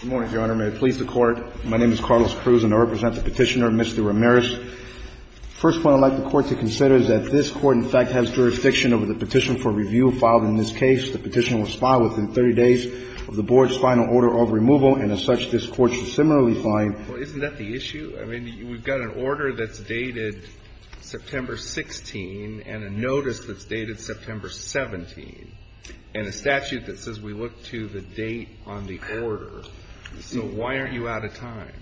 Good morning, Your Honor. May it please the Court, my name is Carlos Cruz, and I represent the petitioner, Mr. Ramirez. The first point I'd like the Court to consider is that this Court in fact has jurisdiction over the petition for review filed in this case. The petition was filed within 30 days of the Board's final order of removal, and as such, this Court should similarly find Well, isn't that the issue? I mean, we've got an order that's dated September 16 and a notice that's dated September 17, and a statute that says we look to the date on the order. So why aren't you out of time?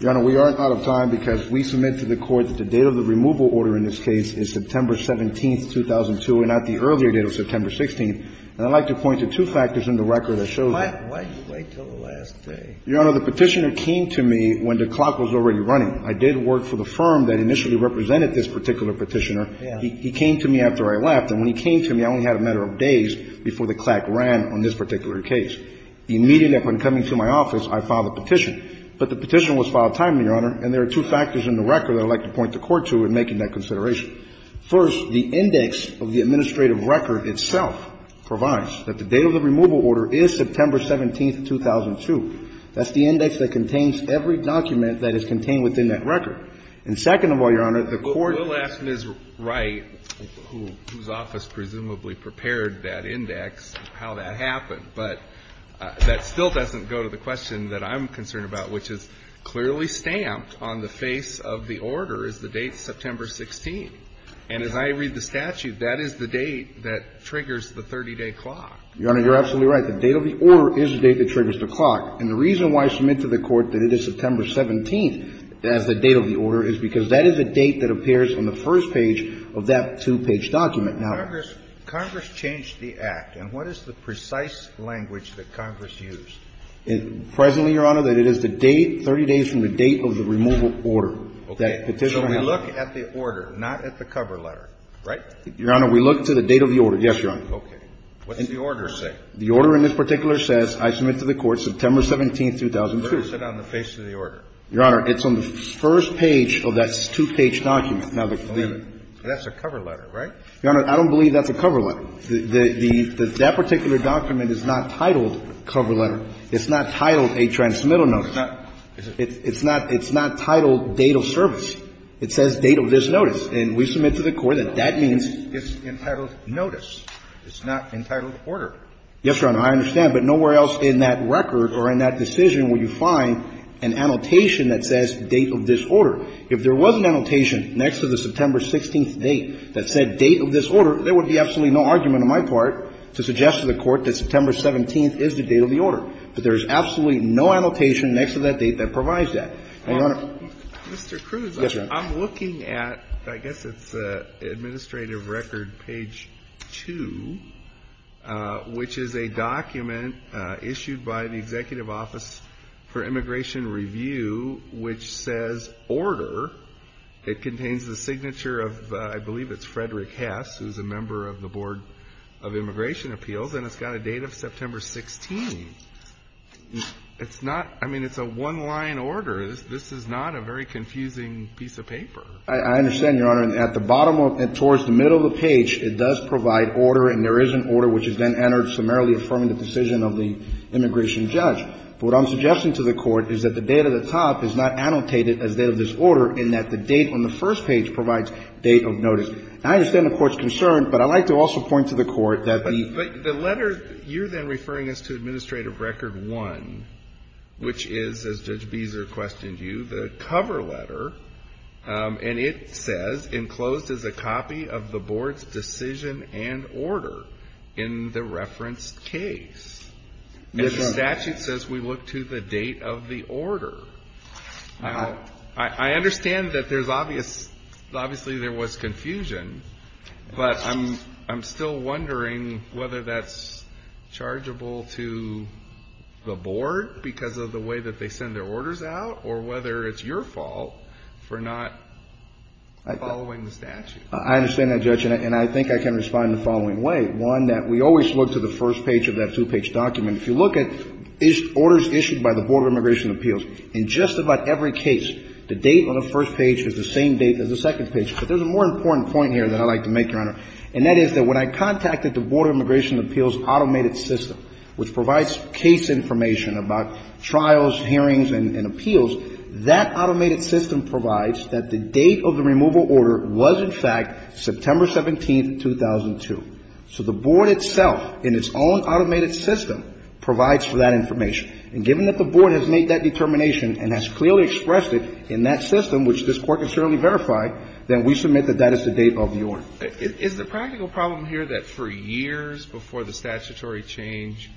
Your Honor, we aren't out of time because we submit to the Court that the date of the removal order in this case is September 17, 2002, and not the earlier date of September 16. And I'd like to point to two factors in the record that show that. Why did you wait until the last day? Your Honor, the petitioner came to me when the clock was already running. I did work for the firm that initially represented this particular petitioner. He came to me after I left, and when he came to me, I only had a matter of days before the clock ran on this particular case. The immediate upon coming to my office, I filed a petition. But the petition was filed timely, Your Honor, and there are two factors in the record that I'd like to point the Court to in making that consideration. First, the index of the administrative record itself provides that the date of the removal order is September 17, 2002. That's the index that contains every document that is contained within that record. And second of all, Your Honor, the Court — We'll ask Ms. Wright, whose office presumably prepared that index, how that happened. But that still doesn't go to the question that I'm concerned about, which is clearly stamped on the face of the order is the date September 16. And as I read the statute, that is the date that triggers the 30-day clock. Your Honor, you're absolutely right. The date of the order is the date that triggers the clock. And the reason why I submit to the Court that it is September 17 as the date of the order is because that is a date that appears on the first page of that two-page document. Now, Congress changed the Act. And what is the precise language that Congress used? Presently, Your Honor, that it is the date, 30 days from the date of the removal order that Petitioner handled. Okay. So we look at the order, not at the cover letter, right? Your Honor, we look to the date of the order. Yes, Your Honor. Okay. What does the order say? The order in this particular says, I submit to the Court, September 17, 2002. Where is it on the face of the order? Your Honor, it's on the first page of that two-page document. Now, the the the That's a cover letter, right? Your Honor, I don't believe that's a cover letter. The the the that particular document is not titled cover letter. It's not titled a transmittal notice. It's not it's not it's not titled date of service. It says date of this notice. And we submit to the Court that that means It's entitled notice. It's not entitled order. Yes, Your Honor, I understand. But nowhere else in that record or in that decision will you find an annotation that says date of this order. If there was an annotation next to the September 16th date that said date of this order, there would be absolutely no argument on my part to suggest to the Court that September 17th is the date of the order. But there is absolutely no annotation next to that date that provides that. Your Honor. Mr. Krugs, I'm looking at, I guess it's the administrative record, page 2, where which is a document issued by the Executive Office for Immigration Review, which says order. It contains the signature of, I believe it's Frederick Hess, who's a member of the Board of Immigration Appeals. And it's got a date of September 16th. It's not, I mean, it's a one line order. This is not a very confusing piece of paper. I understand, Your Honor. And at the bottom, towards the middle of the page, it does provide order. And there is an order which is then entered summarily affirming the decision of the immigration judge. But what I'm suggesting to the Court is that the date at the top is not annotated as date of this order, in that the date on the first page provides date of notice. I understand the Court's concern, but I'd like to also point to the Court that the ---- But the letter, you're then referring us to Administrative Record 1, which is, as Judge Beezer questioned you, the cover letter, and it says, enclosed as a copy of the Board's decision and order in the referenced case. And the statute says we look to the date of the order. I understand that there's obvious ---- obviously, there was confusion, but I'm still wondering whether that's chargeable to the Board because of the way that they send their orders out, or whether it's your fault for not following the statute. I understand that, Judge, and I think I can respond the following way. One, that we always look to the first page of that two-page document. If you look at these orders issued by the Board of Immigration Appeals, in just about every case, the date on the first page is the same date as the second page. But there's a more important point here that I'd like to make, Your Honor, and that is that when I contacted the Board of Immigration Appeals' automated system, which provides case information about trials, hearings, and appeals, that automated system provides that the date of the removal order was, in fact, September 17, 2002. So the Board itself, in its own automated system, provides for that information. And given that the Board has made that determination and has clearly expressed it in that system, which this Court has certainly verified, then we submit that that is the date of the order. Is the practical problem here that for years before the statutory change,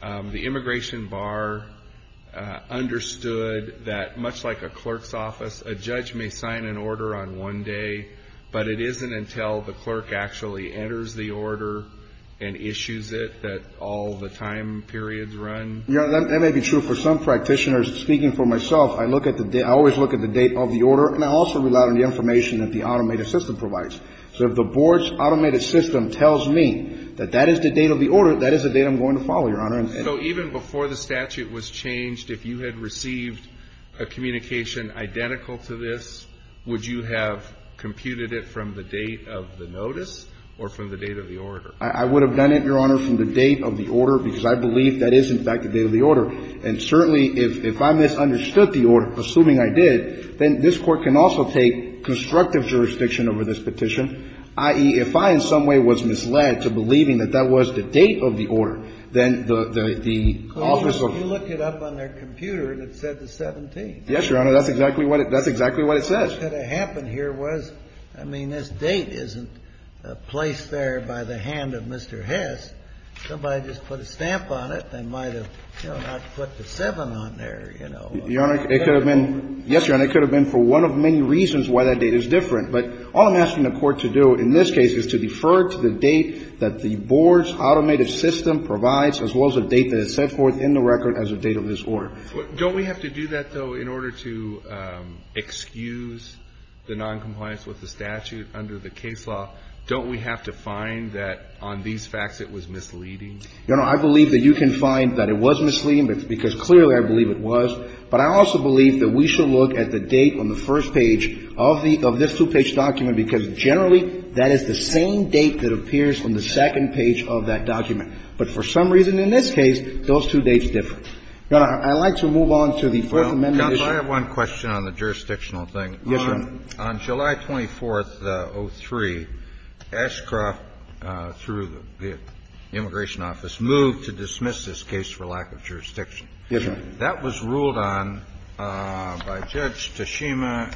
the immigration bar understood that, much like a clerk's office, a judge may sign an order on one day, but it isn't until the clerk actually enters the order and issues it that all the time periods run? Your Honor, that may be true. For some practitioners, speaking for myself, I always look at the date of the order, and I also rely on the information that the automated system provides. So if the Board's automated system tells me that that is the date of the order, that is the date I'm going to follow, Your Honor. So even before the statute was changed, if you had received a communication identical to this, would you have computed it from the date of the notice or from the date of the order? I would have done it, Your Honor, from the date of the order, because I believe that is, in fact, the date of the order. And certainly, if I misunderstood the order, assuming I did, then this Court can also take constructive jurisdiction over this petition, i.e., if I in some way was the officer of the Board. Could you look it up on their computer, and it said the 17th. Yes, Your Honor. That's exactly what it says. What could have happened here was, I mean, this date isn't placed there by the hand of Mr. Hess. Somebody just put a stamp on it and might have, you know, not put the 7 on there, you know. Your Honor, it could have been. Yes, Your Honor. It could have been for one of many reasons why that date is different. But all I'm asking the Court to do in this case is to defer to the date that the date that is set forth in the record as the date of this order. Don't we have to do that, though, in order to excuse the noncompliance with the statute under the case law? Don't we have to find that on these facts it was misleading? Your Honor, I believe that you can find that it was misleading, because clearly I believe it was. But I also believe that we should look at the date on the first page of this two-page document, because generally that is the same date that appears on the second page of that document. But for some reason in this case, those two dates differ. Your Honor, I'd like to move on to the Fourth Amendment issue. Well, counsel, I have one question on the jurisdictional thing. Yes, Your Honor. On July 24th, 2003, Ashcroft, through the immigration office, moved to dismiss this case for lack of jurisdiction. Yes, Your Honor. That was ruled on by Judge Tashima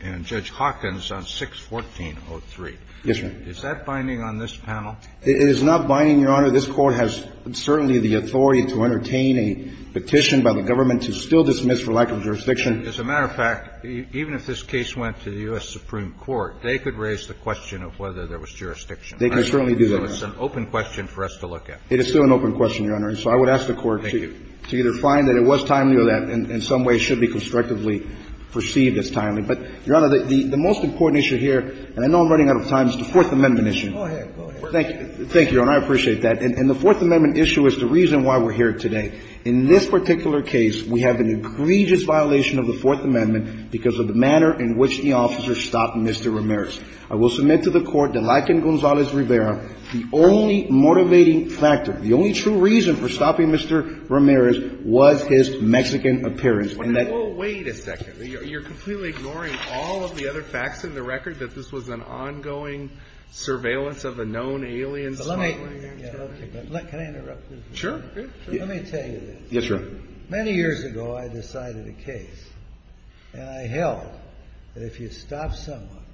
and Judge Hawkins on 6-14-03. Yes, Your Honor. Is that binding on this panel? It is not binding, Your Honor. This Court has certainly the authority to entertain a petition by the government to still dismiss for lack of jurisdiction. As a matter of fact, even if this case went to the U.S. Supreme Court, they could raise the question of whether there was jurisdiction. They can certainly do that. So it's an open question for us to look at. It is still an open question, Your Honor. And so I would ask the Court to either find that it was timely or that in some way should be constructively perceived as timely. But, Your Honor, the most important issue here, and I know I'm running out of time, is the Fourth Amendment issue. Go ahead. Thank you. Thank you, Your Honor. I appreciate that. And the Fourth Amendment issue is the reason why we're here today. In this particular case, we have an egregious violation of the Fourth Amendment because of the manner in which the officer stopped Mr. Ramirez. I will submit to the Court that, like in Gonzales-Rivera, the only motivating factor, the only true reason for stopping Mr. Ramirez was his Mexican appearance. And that you're completely ignoring all of the other facts in the record that this was an ongoing surveillance of a known alien smuggler. But let me, can I interrupt you? Sure. Let me tell you this. Yes, Your Honor. Many years ago, I decided a case. And I held that if you stop someone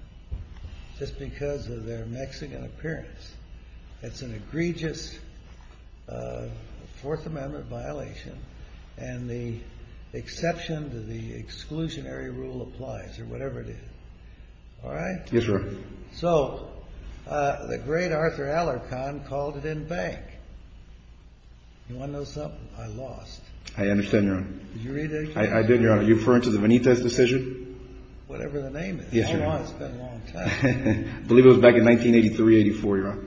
just because of their Mexican appearance, it's an egregious Fourth Amendment violation. And the exception to the exclusionary rule applies, or whatever it is. All right? Yes, Your Honor. So the great Arthur Alarcon called it in bank. You want to know something? I lost. I understand, Your Honor. Did you read it? I did, Your Honor. Are you referring to the Benitez decision? Whatever the name is. Yes, Your Honor. It's been a long time. I believe it was back in 1983, 84, Your Honor.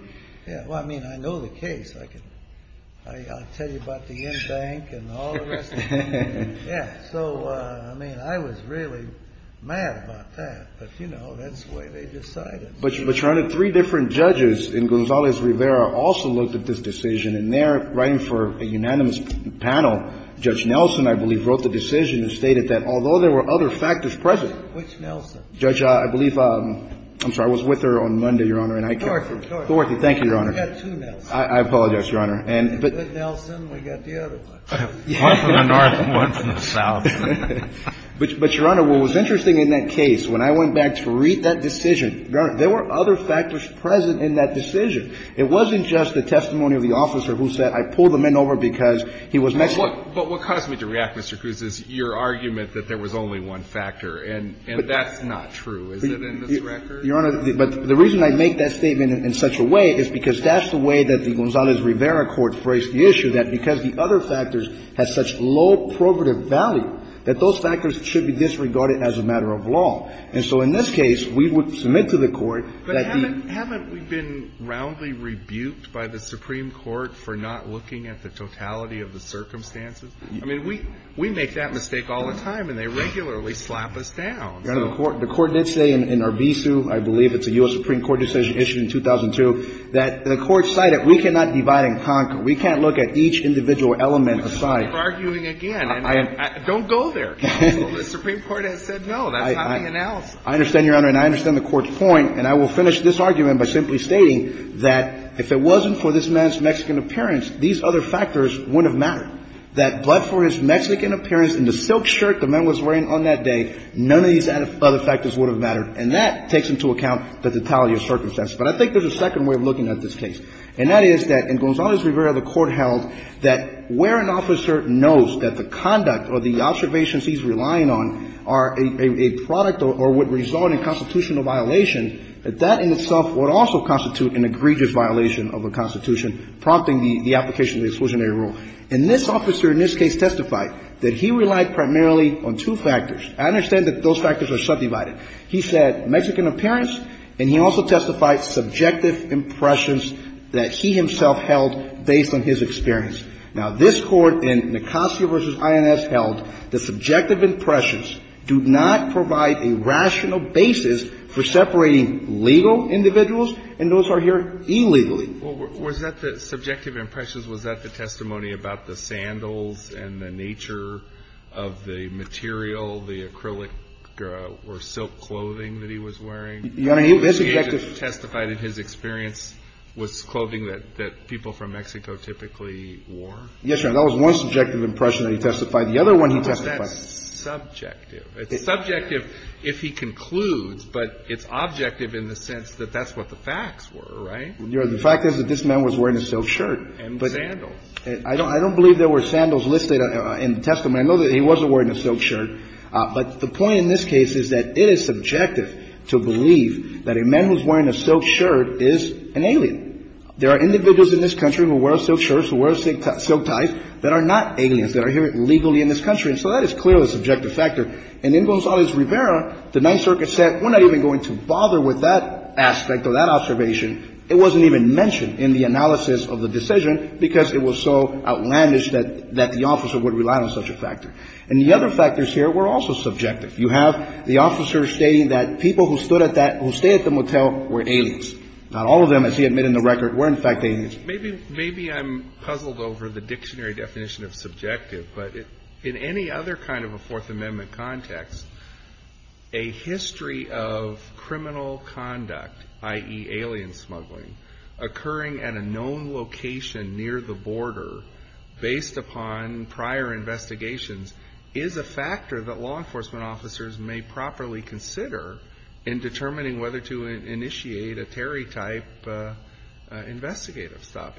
Yeah, well, I mean, I know the case. I can, I'll tell you about the in bank and all the rest of it. Yeah, so I mean, I was really mad about that. But, you know, that's the way they decided. But, Your Honor, three different judges in Gonzales-Rivera also looked at this decision. And there, writing for a unanimous panel, Judge Nelson, I believe, wrote the decision and stated that although there were other factors present. Which Nelson? Judge, I believe, I'm sorry, I was with her on Monday, Your Honor, and I can't. Thornton, Thornton. Thornton, thank you, Your Honor. We've got two Nelsons. I apologize, Your Honor. Nelson, we've got the other one. One from the north, one from the south. But, Your Honor, what was interesting in that case, when I went back to read that decision, Your Honor, there were other factors present in that decision. It wasn't just the testimony of the officer who said I pulled the men over because he was Mexican. But what caused me to react, Mr. Cruz, is your argument that there was only one factor. And that's not true, is it, in this record? Your Honor, the reason I make that statement in such a way is because that's the way that the Gonzales-Rivera court phrased the issue, that because the other factors have such low probative value, that those factors should be disregarded as a matter of law. And so in this case, we would submit to the Court that the ---- But haven't we been roundly rebuked by the Supreme Court for not looking at the totality of the circumstances? I mean, we make that mistake all the time, and they regularly slap us down. Your Honor, the Court did say in Arvizu, I believe it's a U.S. Supreme Court decision issued in 2002, that the Court cited we cannot divide and conquer. We can't look at each individual element aside. You keep arguing again. Don't go there. The Supreme Court has said no. That's not the analysis. I understand, Your Honor, and I understand the Court's point. And I will finish this argument by simply stating that if it wasn't for this man's Mexican appearance, these other factors wouldn't have mattered, that but for his Mexican appearance and the silk shirt the man was wearing on that day, none of these other factors would have mattered. And that takes into account the totality of circumstances. But I think there's a second way of looking at this case. And that is that in Gonzalez Rivera, the Court held that where an officer knows that the conduct or the observations he's relying on are a product or would result in constitutional violation, that that in itself would also constitute an egregious violation of a constitution, prompting the application of the exclusionary rule. And this officer in this case testified that he relied primarily on two factors. I understand that those factors are subdivided. He said Mexican appearance, and he also testified subjective impressions that he himself held based on his experience. Now, this Court in Nicosia v. INS held that subjective impressions do not provide a rational basis for separating legal individuals, and those are here illegally. Well, was that the subjective impressions, was that the testimony about the sandals and the nature of the material, the acrylic or silk clothing that he was wearing? Your Honor, he was subjective. Testified in his experience was clothing that people from Mexico typically wore? Yes, Your Honor. That was one subjective impression that he testified. The other one he testified. But that's subjective. It's subjective if he concludes, but it's objective in the sense that that's what the facts were, right? Your Honor, the fact is that this man was wearing a silk shirt. And sandals. I don't believe there were sandals listed in the testimony. I know that he wasn't wearing a silk shirt. But the point in this case is that it is subjective to believe that a man who's wearing a silk shirt is an alien. There are individuals in this country who wear a silk shirt, who wear a silk tie, that are not aliens, that are here illegally in this country. And so that is clearly a subjective factor. And in Gonzalez Rivera, the Ninth Circuit said we're not even going to bother with that aspect or that observation. It wasn't even mentioned in the analysis of the decision because it was so outlandish that the officer would rely on such a factor. And the other factors here were also subjective. You have the officer stating that people who stood at that, who stayed at the motel were aliens. Not all of them, as he admitted in the record, were in fact aliens. Maybe I'm puzzled over the dictionary definition of subjective, but in any other kind of a Fourth Amendment context, a history of criminal conduct, i.e., alien smuggling, occurring at a known location near the border based upon prior investigations is a factor that law enforcement officers may properly consider in determining whether to initiate a Terry-type investigative stop.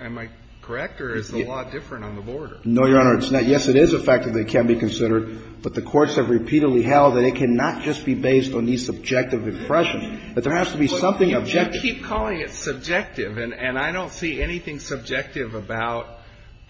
Am I correct, or is the law different on the border? No, Your Honor, it's not. Yes, it is a factor that can be considered, but the courts have repeatedly held that it cannot just be based on these subjective impressions, that there has to be something objective. I keep calling it subjective, and I don't see anything subjective about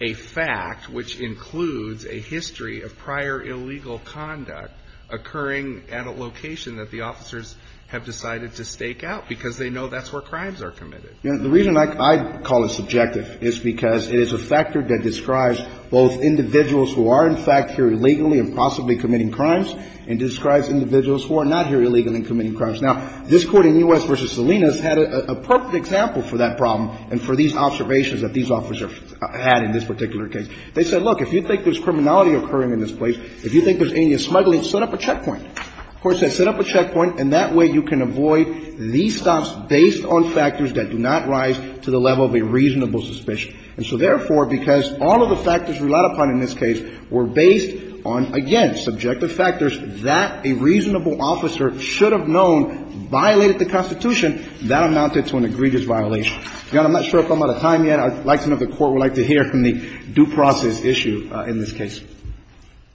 a fact which includes a history of prior illegal conduct occurring at a location that the officers have decided to stake out, because they know that's where crimes are committed. The reason I call it subjective is because it is a factor that describes both individuals who are, in fact, here illegally and possibly committing crimes, and describes individuals who are not here illegally and committing crimes. Now, this Court in U.S. v. Salinas had a perfect example for that problem and for these observations that these officers had in this particular case. They said, look, if you think there's criminality occurring in this place, if you think there's alien smuggling, set up a checkpoint. The Court said set up a checkpoint, and that way you can avoid these stops based on factors that do not rise to the level of a reasonable suspicion. And so, therefore, because all of the factors relied upon in this case were based on, again, subjective factors that a reasonable officer should have known violated the Constitution, that amounted to an egregious violation. Your Honor, I'm not sure if I'm out of time yet. I'd like to know if the Court would like to hear from the due process issue in this case.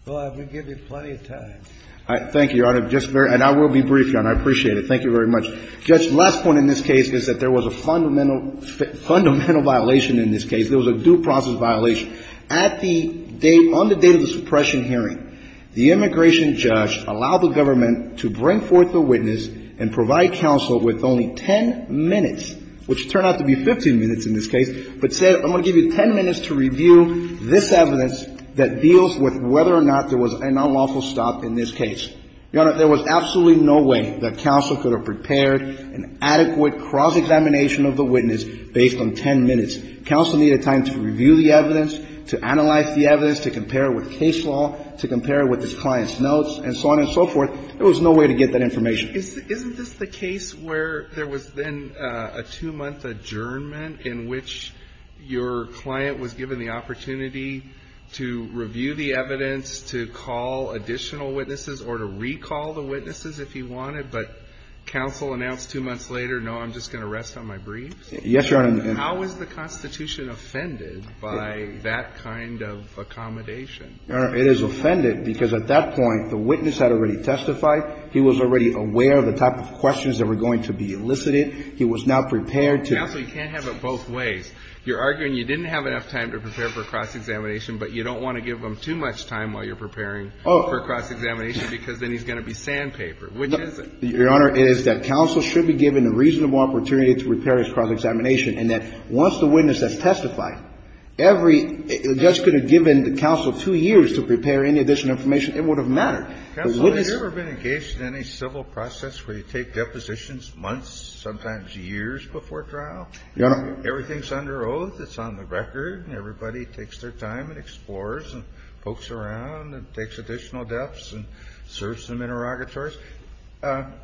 Well, I've been giving you plenty of time. Thank you, Your Honor. Just very – and I will be brief, Your Honor. I appreciate it. Thank you very much. Judge, the last point in this case is that there was a fundamental – fundamental violation in this case. There was a due process violation. At the date – on the date of the suppression hearing, the immigration judge allowed the government to bring forth the witness and provide counsel with only 10 minutes, which turned out to be 15 minutes in this case, but said, I'm going to give you 10 minutes to review this evidence that deals with whether or not there was an unlawful stop in this case. Your Honor, there was absolutely no way that counsel could have prepared an adequate cross-examination of the witness based on 10 minutes. Counsel needed time to review the evidence, to analyze the evidence, to compare it with case law, to compare it with the client's notes, and so on and so forth. There was no way to get that information. Isn't this the case where there was then a two-month adjournment in which your client was given the opportunity to review the evidence, to call additional witnesses or to recall the witnesses if he wanted, but counsel announced two months later, no, I'm just going to rest on my briefs? Yes, Your Honor. How is the Constitution offended by that kind of accommodation? Your Honor, it is offended because at that point, the witness had already testified. He was already aware of the type of questions that were going to be elicited. He was now prepared to do it. Counsel, you can't have it both ways. You're arguing you didn't have enough time to prepare for a cross-examination, but you don't want to give him too much time while you're preparing for a cross-examination because then he's going to be sandpapered, which is it? Your Honor, it is that counsel should be given a reasonable opportunity to prepare for a cross-examination and that once the witness has testified, every just could have given the counsel two years to prepare any additional information, it would have mattered. Counsel, have you ever been engaged in any civil process where you take depositions months, sometimes years before trial? Your Honor. Everything's under oath, it's on the record, and everybody takes their time and explores and pokes around and takes additional depths and serves some interrogatories.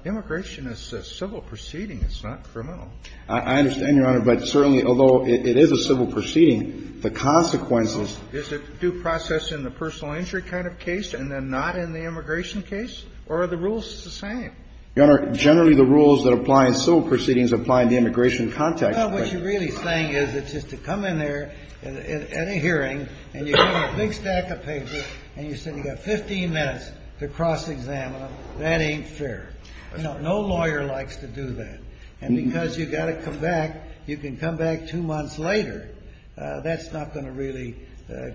Immigration is a civil proceeding. It's not criminal. I understand, Your Honor, but certainly, although it is a civil proceeding, the consequences Is it due process in the personal injury kind of case and then not in the immigration case? Or are the rules the same? Your Honor, generally the rules that apply in civil proceedings apply in the immigration context. What you're really saying is it's just to come in there at a hearing and you get a big stack of papers and you said you got 15 minutes to cross-examine them. That ain't fair. No lawyer likes to do that. And because you got to come back, you can come back two months later. That's not going to really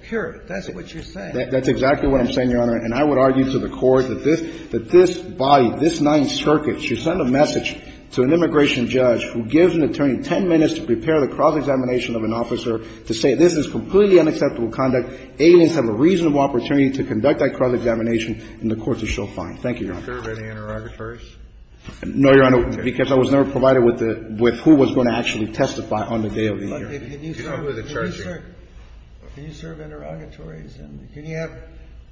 cure it. That's what you're saying. That's exactly what I'm saying, Your Honor. And I would argue to the Court that this body, this Ninth Circuit should send a message to an immigration judge who gives an attorney 10 minutes to prepare the cross-examination of an officer to say this is completely unacceptable conduct, aliens have a reasonable opportunity to conduct that cross-examination, and the Court would show fine. Thank you, Your Honor. Do you serve any interrogatories? No, Your Honor, because I was never provided with who was going to actually testify on the day of the hearing. Can you serve interrogatories? Can you have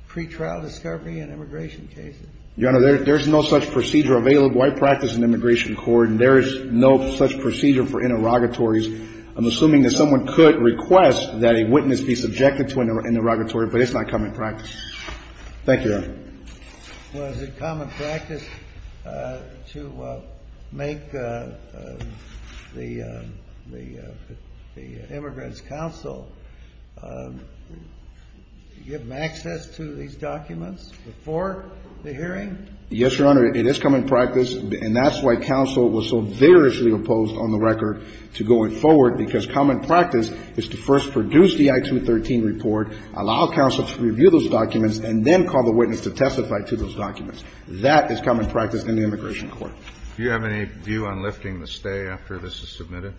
pretrial discovery in immigration cases? Your Honor, there's no such procedure available. I practice in the Immigration Court, and there is no such procedure for interrogatories. I'm assuming that someone could request that a witness be subjected to an interrogatory, but it's not common practice. Thank you, Your Honor. Was it common practice to make the immigrant's counsel give them access to these documents before the hearing? Yes, Your Honor, it is common practice, and that's why counsel was so vigorously opposed on the record to going forward, because common practice is to first produce the I-213 report, allow counsel to review those documents, and then call the witness to testify to those documents. That is common practice in the Immigration Court. Do you have any view on lifting the stay after this is submitted?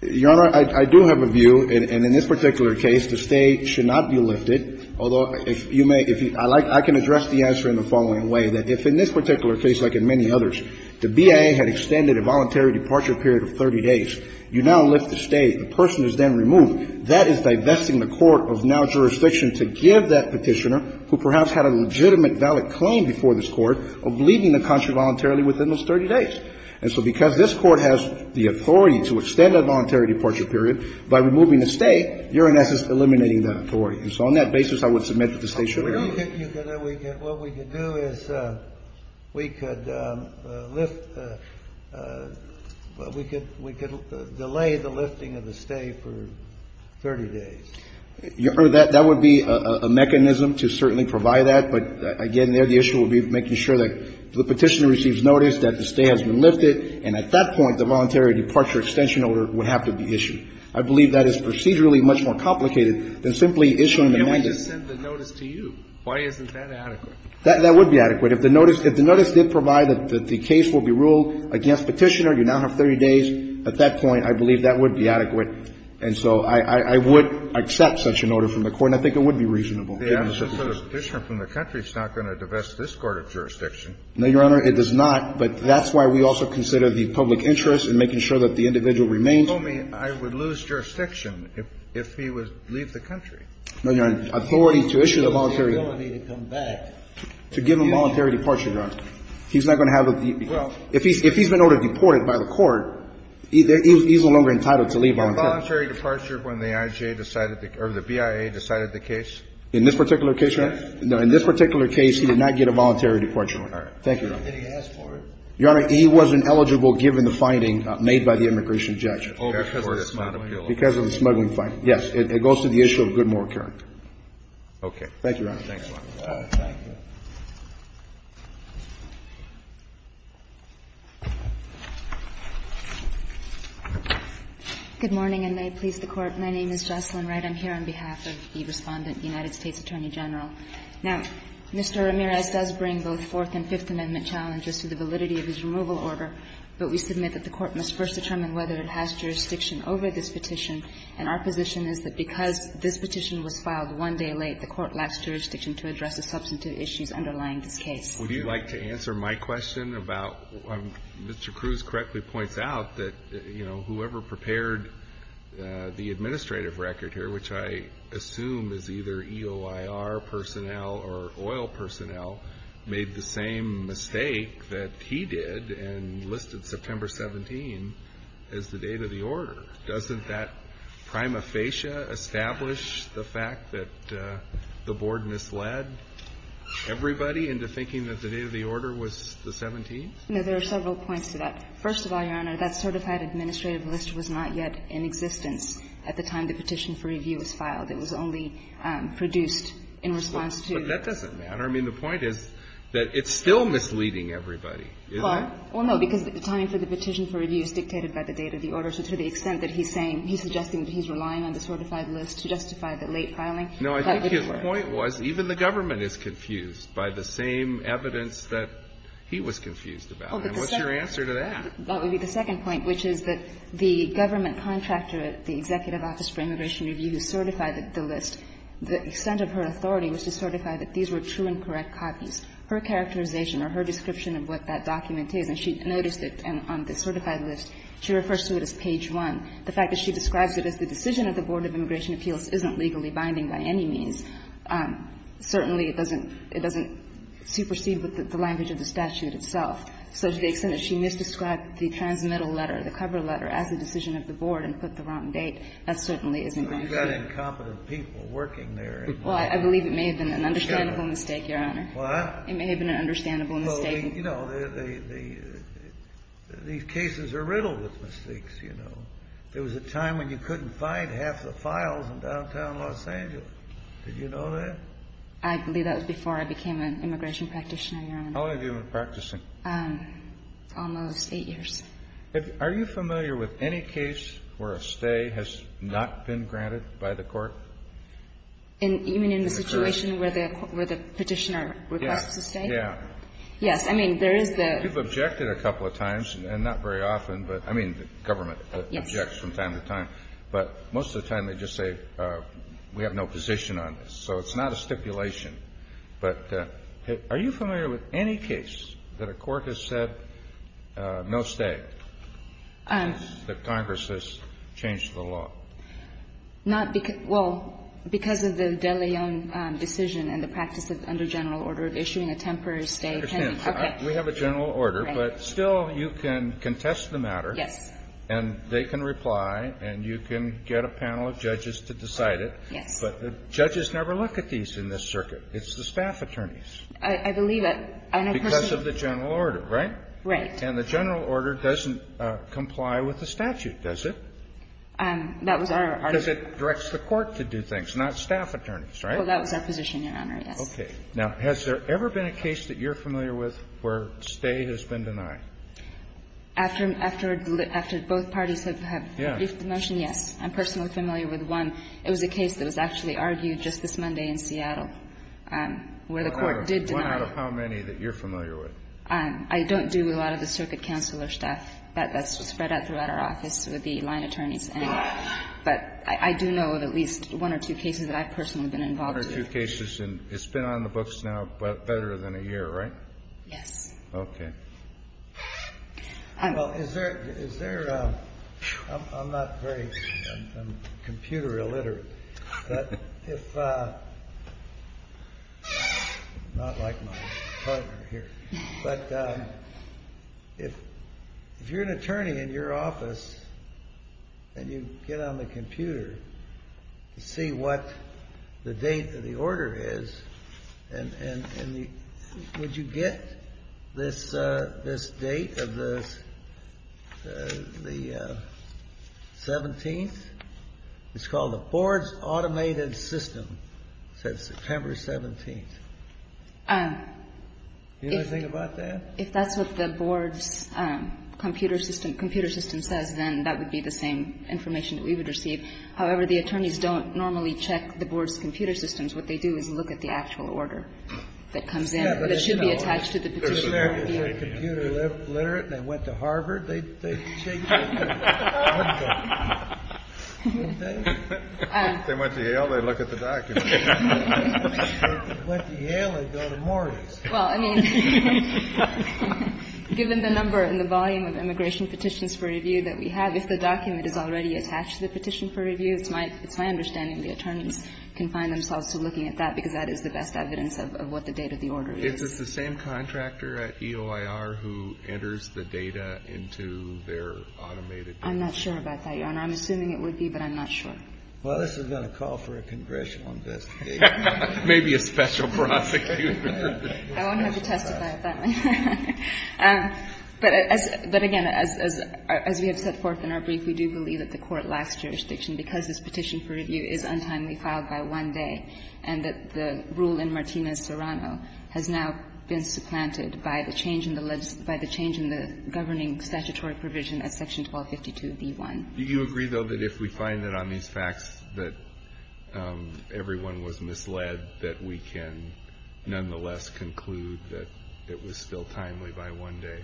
Your Honor, I do have a view, and in this particular case, the stay should not be lifted. Although, if you may, if you – I like – I can address the answer in the following way, that if in this particular case, like in many others, the BIA had extended a voluntary departure period of 30 days, you now lift the stay. The person is then removed. That is divesting the court of now jurisdiction to give that Petitioner, who perhaps had a legitimate, valid claim before this Court, of leaving the country voluntarily within those 30 days. And so, because this Court has the authority to extend that voluntary departure period by removing the stay, you're, in essence, eliminating that authority. And so, on that basis, I would submit that the stay should be removed. What we could do is we could lift – we could delay the lifting of the stay for 30 days. Your Honor, that would be a mechanism to certainly provide that, but again, there the issue would be making sure that the Petitioner receives notice that the stay has been lifted, and at that point, the voluntary departure extension order would have to be issued. I believe that is procedurally much more complicated than simply issuing an amendment. And we just sent the notice to you. Why isn't that adequate? That would be adequate. If the notice did provide that the case will be ruled against Petitioner, you now have 30 days. At that point, I believe that would be adequate. And so, I would accept such an order from the Court, and I think it would be reasonable. The amnesty for the Petitioner from the country is not going to divest this court of jurisdiction. No, Your Honor, it does not, but that's why we also consider the public interest in making sure that the individual remains. You told me I would lose jurisdiction if he would leave the country. No, Your Honor. Authority to issue the voluntary departure. To give him the ability to come back. To give him voluntary departure, Your Honor. He's not going to have the – if he's been ordered deported by the Court, he's no longer entitled to leave voluntarily. Is it voluntary departure when the I.J. decided the – or the BIA decided the case? In this particular case, Your Honor? No, in this particular case, he did not get a voluntary departure. All right. Thank you, Your Honor. Did he ask for it? Your Honor, he wasn't eligible given the finding made by the immigration judge. Oh, because of the smuggling. Because of the smuggling finding. Yes. It goes to the issue of Goodmore current. Okay. Thank you, Your Honor. Thanks, Your Honor. Thank you. Good morning, and may it please the Court. My name is Jocelyn Wright. I'm here on behalf of the Respondent, the United States Attorney General. Now, Mr. Ramirez does bring both Fourth and Fifth Amendment challenges to the validity of his removal order, but we submit that the Court must first determine whether it has jurisdiction over this petition, and our position is that because this petition was filed one day late, the Court lacks jurisdiction to address the substantive issues underlying this case. Would you like to answer my question about Mr. Cruz correctly points out that, you know, whoever prepared the administrative record here, which I assume is either EOIR personnel or oil personnel, made the same mistake that he did and listed September 17 as the date of the order. Doesn't that prima facie establish the fact that the Board misled everybody into thinking that the date of the order was the 17th? No, there are several points to that. First of all, Your Honor, that certified administrative list was not yet in existence at the time the petition for review was filed. It was only produced in response to the 17th. But that doesn't matter. I mean, the point is that it's still misleading everybody, isn't it? Well, no, because the timing for the petition for review is dictated by the date of the order. So to the extent that he's saying, he's suggesting that he's relying on the certified list to justify the late filing. No, I think his point was even the government is confused by the same evidence that he was confused about. And what's your answer to that? That would be the second point, which is that the government contractor at the Executive Office for Immigration Review who certified the list, the extent of her authority was to certify that these were true and correct copies. Her characterization or her description of what that document is, and she noticed it on the certified list, she refers to it as page 1. The fact that she describes it as the decision of the Board of Immigration Appeals isn't legally binding by any means, certainly it doesn't supersede the language of the statute itself. So to the extent that she misdescribed the transmittal letter, the cover letter, as the decision of the Board and put the wrong date, that certainly isn't going to be. Kennedy. So you've got incompetent people working there. Well, I believe it may have been an understandable mistake, Your Honor. What? It may have been an understandable mistake. Well, you know, these cases are riddled with mistakes, you know. There was a time when you couldn't find half the files in downtown Los Angeles. Did you know that? I believe that was before I became an immigration practitioner, Your Honor. How long have you been practicing? Almost eight years. Are you familiar with any case where a stay has not been granted by the court? Even in the situation where the petitioner requests a stay? Yeah. Yes. I mean, there is the ---- You've objected a couple of times, and not very often, but I mean, the government objects from time to time. Yes. But most of the time they just say, we have no position on this. So it's not a stipulation. But are you familiar with any case that a court has said no stay, that Congress has changed the law? Not because of the De Leon decision and the practice under general order of issuing a temporary stay pending. Okay. We have a general order, but still you can contest the matter. Yes. And they can reply, and you can get a panel of judges to decide it. Yes. But the judges never look at these in this circuit. It's the staff attorneys. I believe that. Because of the general order, right? Right. And the general order doesn't comply with the statute, does it? That was our ---- Because it directs the court to do things, not staff attorneys, right? Well, that was our position, Your Honor, yes. Okay. Now, has there ever been a case that you're familiar with where stay has been denied? After the ---- After both parties have briefed the motion, yes. I'm personally familiar with one. It was a case that was actually argued just this Monday in Seattle, where the court did deny it. One out of how many that you're familiar with? I don't do a lot of the circuit counsel or staff. That's spread out throughout our office with the line attorneys. But I do know of at least one or two cases that I've personally been involved in. One or two cases, and it's been on the books now better than a year, right? Yes. Okay. Well, is there ---- I'm not very ---- I'm computer illiterate. But if ---- not like my partner here. But if you're an attorney in your office and you get on the computer to see what the date of the order is, and the ---- would you get this date of the 17th? It's called the Board's Automated System, said September 17th. Do you know anything about that? If that's what the Board's computer system says, then that would be the same information that we would receive. However, the attorneys don't normally check the Board's computer systems. What they do is look at the actual order that comes in that should be attached to the petition. If an American is computer illiterate and they went to Harvard, they'd check that too. If they went to Yale, they'd look at the document. If they went to Yale, they'd go to Morris. Well, I mean, given the number and the volume of immigration petitions for review that we have, if the document is already attached to the petition for review, it's my understanding the attorneys can find themselves looking at that, because that is the best evidence of what the date of the order is. Is this the same contractor at EOIR who enters the data into their automated system? I'm not sure about that, Your Honor. I'm assuming it would be, but I'm not sure. Well, this has been a call for a congressional investigator. Maybe a special prosecutor. I won't have to testify at that point. But, again, as we have set forth in our brief, we do believe that the Court lacks jurisdiction, because this petition for review is untimely filed by one day, and that the rule in Martinez-Serrano has now been supplanted by the change in the legislation by the change in the governing statutory provision at section 1252b1. Do you agree, though, that if we find that on these facts that everyone was misled, that we can nonetheless conclude that it was still timely by one day?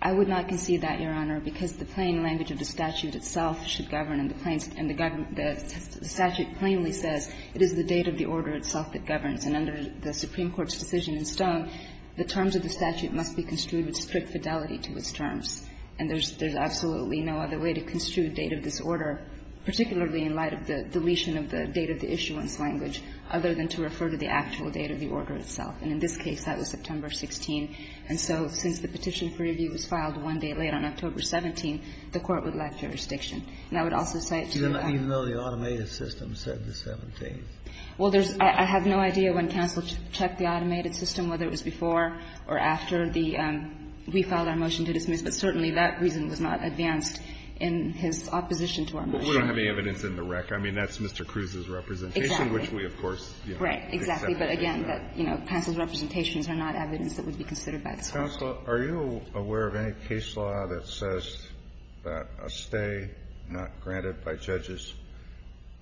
I would not concede that, Your Honor, because the plain language of the statute itself should govern, and the statute plainly says it is the date of the order itself that governs, and under the Supreme Court's decision in Stone, the terms of the statute must be construed with strict fidelity to its terms. And there's absolutely no other way to construe the date of this order, particularly in light of the deletion of the date of the issuance language, other than to refer to the actual date of the order itself. And in this case, that was September 16. And so since the petition for review was filed one day late on October 17, the Court would lack jurisdiction. And I would also cite to that the fact that the statute does not govern by the date of the order itself. Well, I have no idea when counsel checked the automated system, whether it was before or after the we filed our motion to dismiss, but certainly that reason was not advanced in his opposition to our motion. We don't have any evidence in the REC. I mean, that's Mr. Cruz's representation, which we, of course, you know, accepted. Right. Exactly. But again, counsel's representations are not evidence that would be considered by this Court. Counsel, are you aware of any case law that says that a stay not granted by judges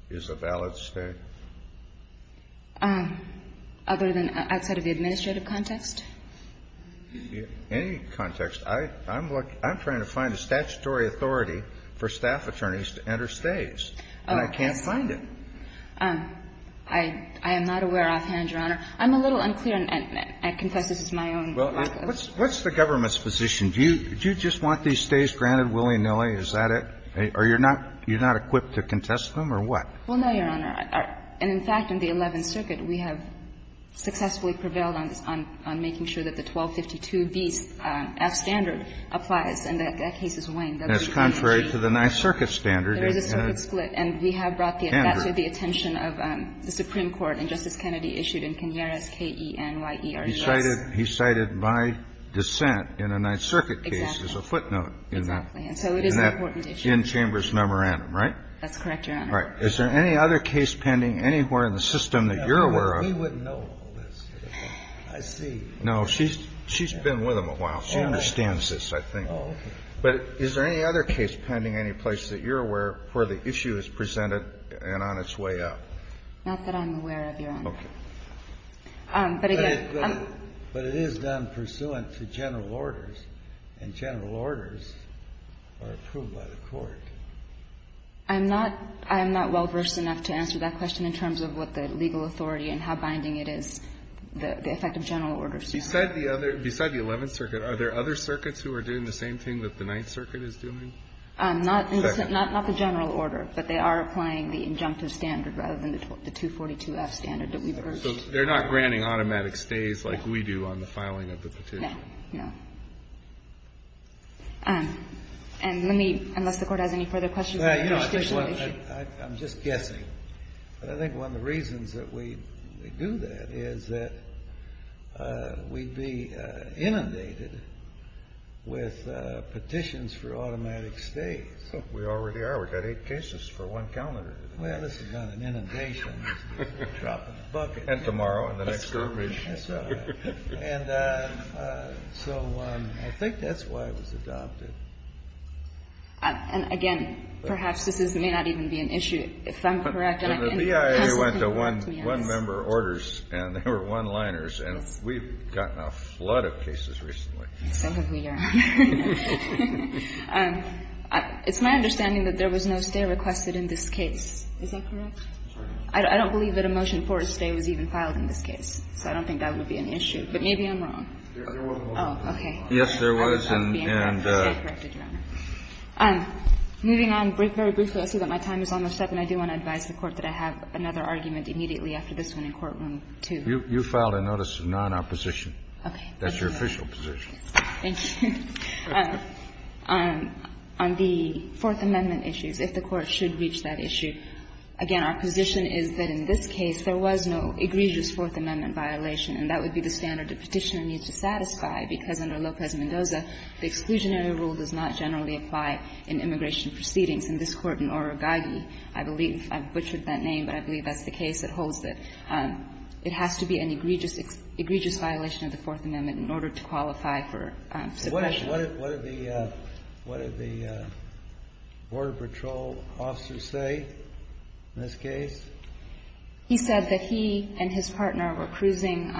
is a valid stay? Other than outside of the administrative context? In any context. I'm trying to find a statutory authority for staff attorneys to enter stays, and I can't find it. I am not aware offhand, Your Honor. I'm a little unclear, and I confess this is my own work. What's the government's position? Do you just want these stays granted willy-nilly? Is that it? Are you not equipped to contest them or what? Well, no, Your Honor. And in fact, in the Eleventh Circuit, we have successfully prevailed on making sure that the 1252B's F standard applies, and that that case is winged. That's contrary to the Ninth Circuit standard. There is a circuit split, and we have brought the attention of the Supreme Court and Justice Kennedy issued in Kenyiras, K-E-N-Y-E-R-S. He cited by dissent in a Ninth Circuit case as a footnote in that. Exactly. And so it is an important issue. In that in-chambers memorandum, right? That's correct, Your Honor. All right. Is there any other case pending anywhere in the system that you're aware of? We wouldn't know all this. I see. No, she's been with them a while. She understands this, I think. Oh, okay. But is there any other case pending any place that you're aware of where the issue is presented and on its way up? Not that I'm aware of, Your Honor. Okay. But again, I'm But it is done pursuant to general orders, and general orders are approved by the Court. I'm not well-versed enough to answer that question in terms of what the legal authority is and how binding it is, the effect of general orders. You said the other – beside the Eleventh Circuit, are there other circuits who are doing the same thing that the Ninth Circuit is doing? Not the general order, but they are applying the injunctive standard rather than the 242F standard that we've heard. So they're not granting automatic stays like we do on the filing of the petition? No. No. And let me, unless the Court has any further questions on the interstitial issue. I'm just guessing, but I think one of the reasons that we do that is that we'd be inundated with petitions for automatic stays. We already are. We've got eight cases for one calendar. Well, this is not an inundation. It's just a drop in the bucket. And tomorrow, and the next survey. That's right. And so I think that's why it was adopted. And again, perhaps this may not even be an issue, if I'm correct. And the BIA went to one-member orders, and they were one-liners, and we've gotten a flood of cases recently. So have we, Your Honor. It's my understanding that there was no stay requested in this case. Is that correct? I don't believe that a motion for a stay was even filed in this case. So I don't think that would be an issue. But maybe I'm wrong. There was a motion for a stay. Oh, okay. Yes, there was. And I'm not being there for a stay requested, Your Honor. Moving on, very briefly, I see that my time is almost up, and I do want to advise the Court that I have another argument immediately after this one in courtroom two. You filed a notice of non-opposition. Okay. That's your official position. Thank you. On the Fourth Amendment issues, if the Court should reach that issue, again, our position is that in this case there was no egregious Fourth Amendment violation, and that the exclusionary rule does not generally apply in immigration proceedings. In this court in Oragagi, I believe, I butchered that name, but I believe that's the case that holds it, it has to be an egregious violation of the Fourth Amendment in order to qualify for suppression. What did the Border Patrol officer say in this case? He said that he and his partner were cruising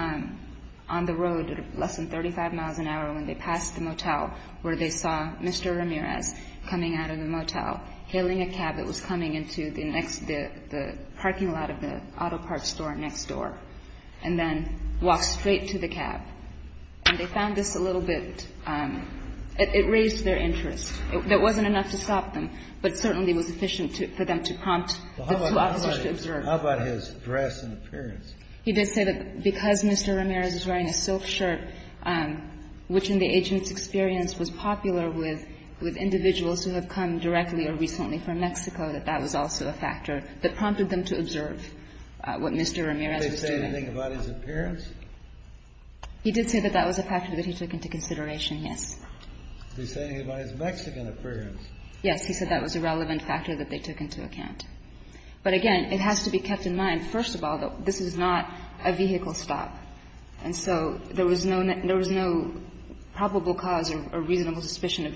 on the road at less than 35 miles an hour, and they were in a motel where they saw Mr. Ramirez coming out of the motel, hailing a cab that was coming into the next, the parking lot of the auto parts store next door, and then walked straight to the cab. And they found this a little bit, it raised their interest. It wasn't enough to stop them, but certainly was efficient for them to prompt the two officers to observe. Well, how about his dress and appearance? He did say that because Mr. Ramirez was wearing a silk shirt, which in the agent's experience was popular with individuals who have come directly or recently from Mexico, that that was also a factor that prompted them to observe what Mr. Ramirez was doing. Did they say anything about his appearance? He did say that that was a factor that he took into consideration, yes. Is he saying about his Mexican appearance? Yes. He said that was a relevant factor that they took into account. But again, it has to be kept in mind, first of all, this is not a vehicle stop. And so there was no probable cause or reasonable suspicion of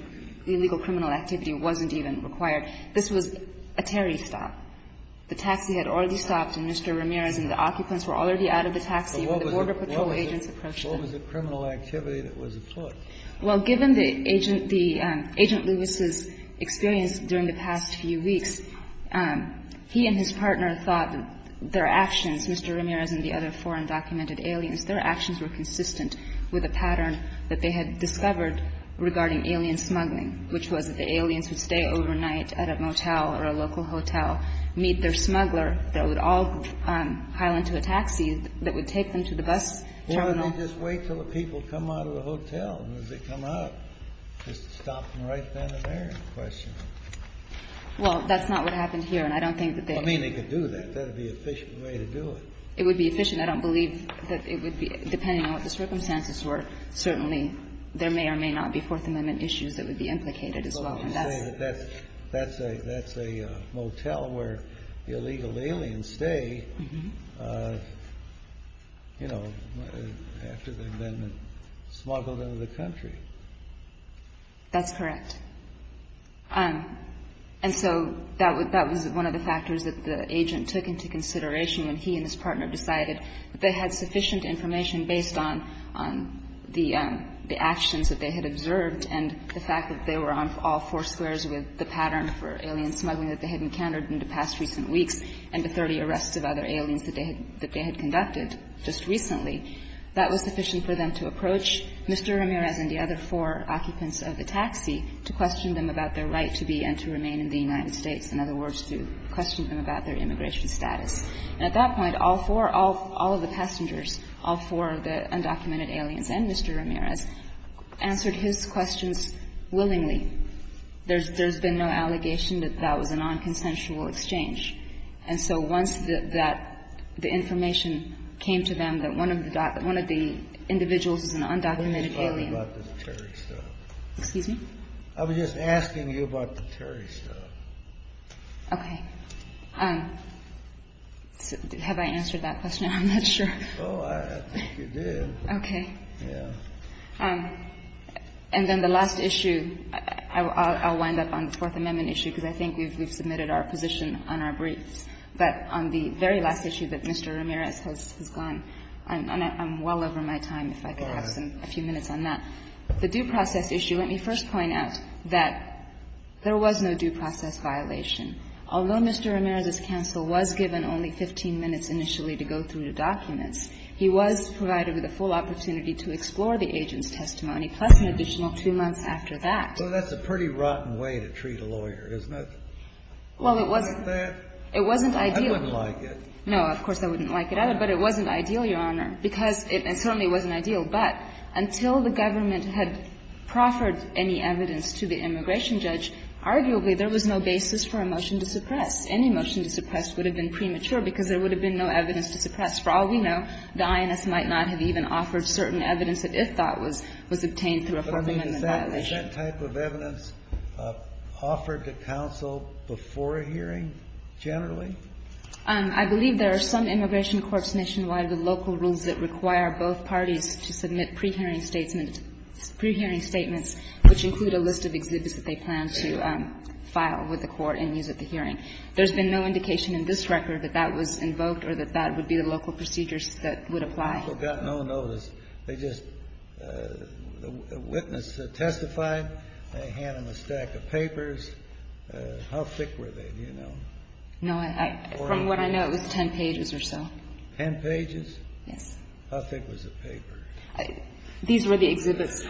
illegal criminal activity wasn't even required. This was a Terry stop. The taxi had already stopped, and Mr. Ramirez and the occupants were already out of the taxi when the Border Patrol agents approached them. What was the criminal activity that was afoot? Well, given the agent, the agent Lewis's experience during the past few weeks, he and his partner thought their actions, Mr. Ramirez and the other four undocumented aliens, their actions were consistent with a pattern that they had discovered regarding alien smuggling, which was that the aliens would stay overnight at a motel or a local hotel, meet their smuggler that would all pile into a taxi that would take them to the bus terminal. Why don't they just wait until the people come out of the hotel? And as they come out, just stop them right then and there? Well, that's not what happened here. I mean, they could do that. That would be an efficient way to do it. It would be efficient. I don't believe that it would be, depending on what the circumstances were, certainly there may or may not be Fourth Amendment issues that would be implicated as well. That's a motel where illegal aliens stay, you know, after they've been smuggled into the country. That's correct. And so that was one of the factors that the agent took into consideration when he and his partner decided that they had sufficient information based on the actions that they had observed and the fact that they were on all four squares with the pattern for alien smuggling that they had encountered in the past recent weeks and the 30 arrests of other aliens that they had conducted just recently. That was sufficient for them to approach Mr. Ramirez and the other four occupants of the taxi to question them about their right to be and to remain in the United States, in other words, to question them about their immigration status. And at that point, all four, all of the passengers, all four of the undocumented aliens and Mr. Ramirez answered his questions willingly. There's been no allegation that that was a nonconsensual exchange. And so once that the information came to them that one of the individuals is an undocumented alien. I'm sorry about the Terry stuff. Excuse me? I was just asking you about the Terry stuff. Okay. Have I answered that question? I'm not sure. Oh, I think you did. Okay. Yeah. And then the last issue, I'll wind up on the Fourth Amendment issue because I think we've submitted our position on our briefs. But on the very last issue that Mr. Ramirez has gone, and I'm well over my time if I could have a few minutes on that. The due process issue, let me first point out that there was no due process violation. Although Mr. Ramirez's counsel was given only 15 minutes initially to go through the documents, he was provided with a full opportunity to explore the agent's testimony, plus an additional two months after that. Well, that's a pretty rotten way to treat a lawyer, isn't it? Well, it wasn't. Isn't that? It wasn't ideal. I wouldn't like it. No, of course, I wouldn't like it either. But it wasn't ideal, Your Honor, because it certainly wasn't ideal. But until the government had proffered any evidence to the immigration judge, arguably there was no basis for a motion to suppress. Any motion to suppress would have been premature because there would have been no evidence to suppress. For all we know, the INS might not have even offered certain evidence that it thought was obtained through a federal amendment violation. But I mean, is that type of evidence offered to counsel before a hearing generally? I believe there are some immigration courts nationwide with local rules that require both parties to submit pre-hearing statements, which include a list of exhibits that they plan to file with the court and use at the hearing. There's been no indication in this record that that was invoked or that that would be the local procedures that would apply. I also got no notice. They just the witness testified. They hand him a stack of papers. How thick were they? Do you know? No. From what I know, it was 10 pages or so. Ten pages? Yes. How thick was the paper? These were the exhibits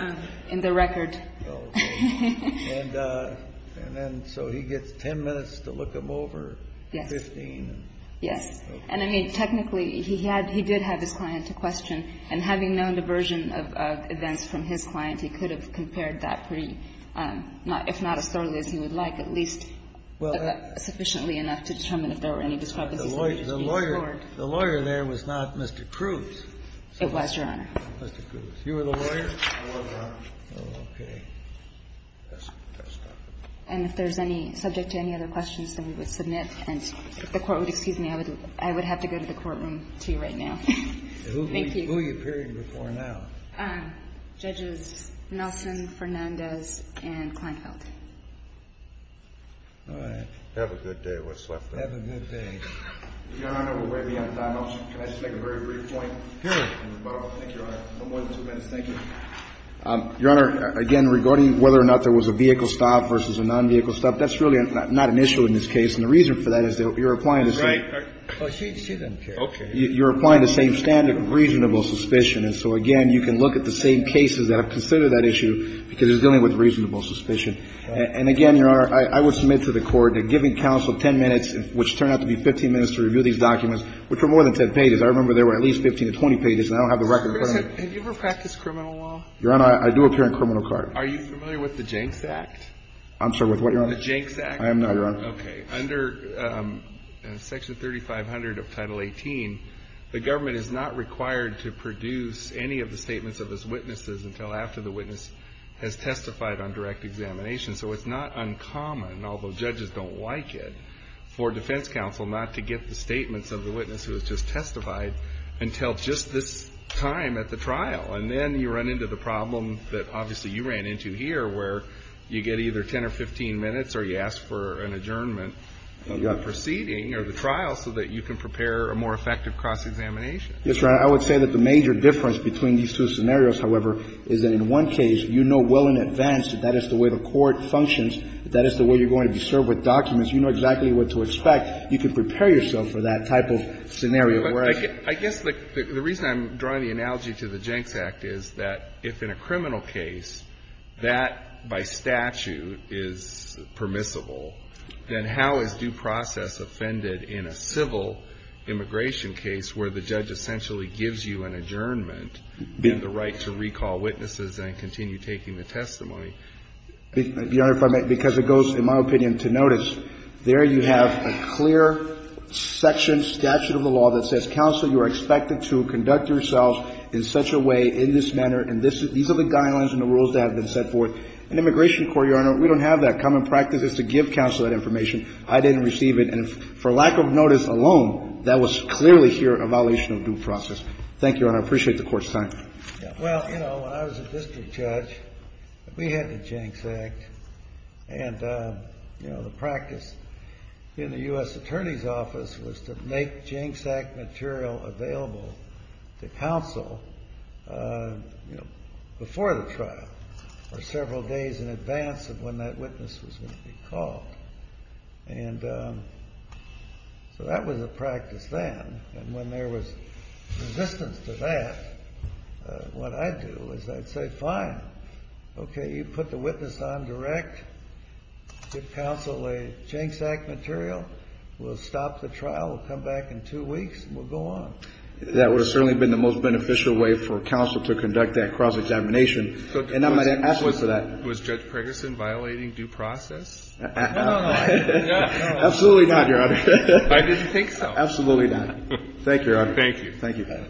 in the record. Oh, okay. And then so he gets 10 minutes to look them over? Yes. 15? Yes. And I mean, technically, he had he did have his client to question. And having known the version of events from his client, he could have compared that pretty, if not as thoroughly as he would like, at least sufficiently enough to determine if there were any discrepancies. The lawyer there was not Mr. Cruz. It was, Your Honor. Mr. Cruz. You were the lawyer? I was, Your Honor. Okay. And if there's any subject to any other questions, then we would submit. And if the Court would excuse me, I would have to go to the courtroom to you right now. Thank you. Who are you appearing before now? Judges Nelson, Fernandez, and Kleinfeld. All right. Have a good day, what's left of it. Have a good day. Your Honor, we're way beyond time. Can I just make a very brief point? Sure. Thank you, Your Honor. No more than two minutes. Thank you. Your Honor, again, regarding whether or not there was a vehicle stop versus a non-vehicle stop, that's really not an issue in this case. And the reason for that is you're applying the same standard of reasonable suspicion. And so, again, you can look at the same cases that have considered that issue because it's dealing with reasonable suspicion. And again, Your Honor, I would submit to the Court that giving counsel 10 minutes, which turned out to be 15 minutes to review these documents, which were more than 10 pages. I remember there were at least 15 to 20 pages, and I don't have the record. Your Honor, have you ever practiced criminal law? Your Honor, I do appear in criminal court. Are you familiar with the Jenks Act? I'm sorry, with what, Your Honor? The Jenks Act. I am not, Your Honor. Okay. Under Section 3500 of Title 18, the government is not required to produce any of the statements of its witnesses until after the witness has testified on direct examination. So it's not uncommon, although judges don't like it, for defense counsel not to get the statements of the witness who has just testified until just this time at the trial. And then you run into the problem that, obviously, you ran into here, where you get either 10 or 15 minutes or you ask for an adjournment of the proceeding or the trial so that you can prepare a more effective cross-examination. Yes, Your Honor. I would say that the major difference between these two scenarios, however, is that in one case, you know well in advance that that is the way the court functions, that is the way you're going to be served with documents. You know exactly what to expect. You can prepare yourself for that type of scenario. I guess the reason I'm drawing the analogy to the Jenks Act is that if in a criminal case that, by statute, is permissible, then how is due process offended in a civil immigration case where the judge essentially gives you an adjournment and the right to recall witnesses and continue taking the testimony? Your Honor, if I may, because it goes, in my opinion, to notice. There you have a clear section, statute of the law that says, counsel, you are expected to conduct yourself in such a way, in this manner, and these are the guidelines and the rules that have been set forth. In immigration court, Your Honor, we don't have that. Common practice is to give counsel that information. I didn't receive it. And for lack of notice alone, that was clearly here a violation of due process. Thank you, Your Honor. I appreciate the Court's time. Well, you know, when I was a district judge, we had the Jenks Act. And, you know, the practice in the U.S. Attorney's Office was to make Jenks Act material available to counsel, you know, before the trial or several days in advance of when that witness was going to be called. And so that was a practice then. And when there was resistance to that, what I'd do is I'd say, fine. Okay. You put the witness on direct. Give counsel a Jenks Act material. We'll stop the trial. We'll come back in two weeks, and we'll go on. That would have certainly been the most beneficial way for counsel to conduct that cross-examination. And I'm going to ask you for that. Was Judge Preggerson violating due process? No, no, no. Absolutely not, Your Honor. I didn't think so. Absolutely not. Thank you, Your Honor. Thank you. Thank you, Your Honor.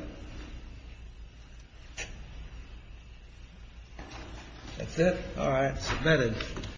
That's it. All right. Submitted.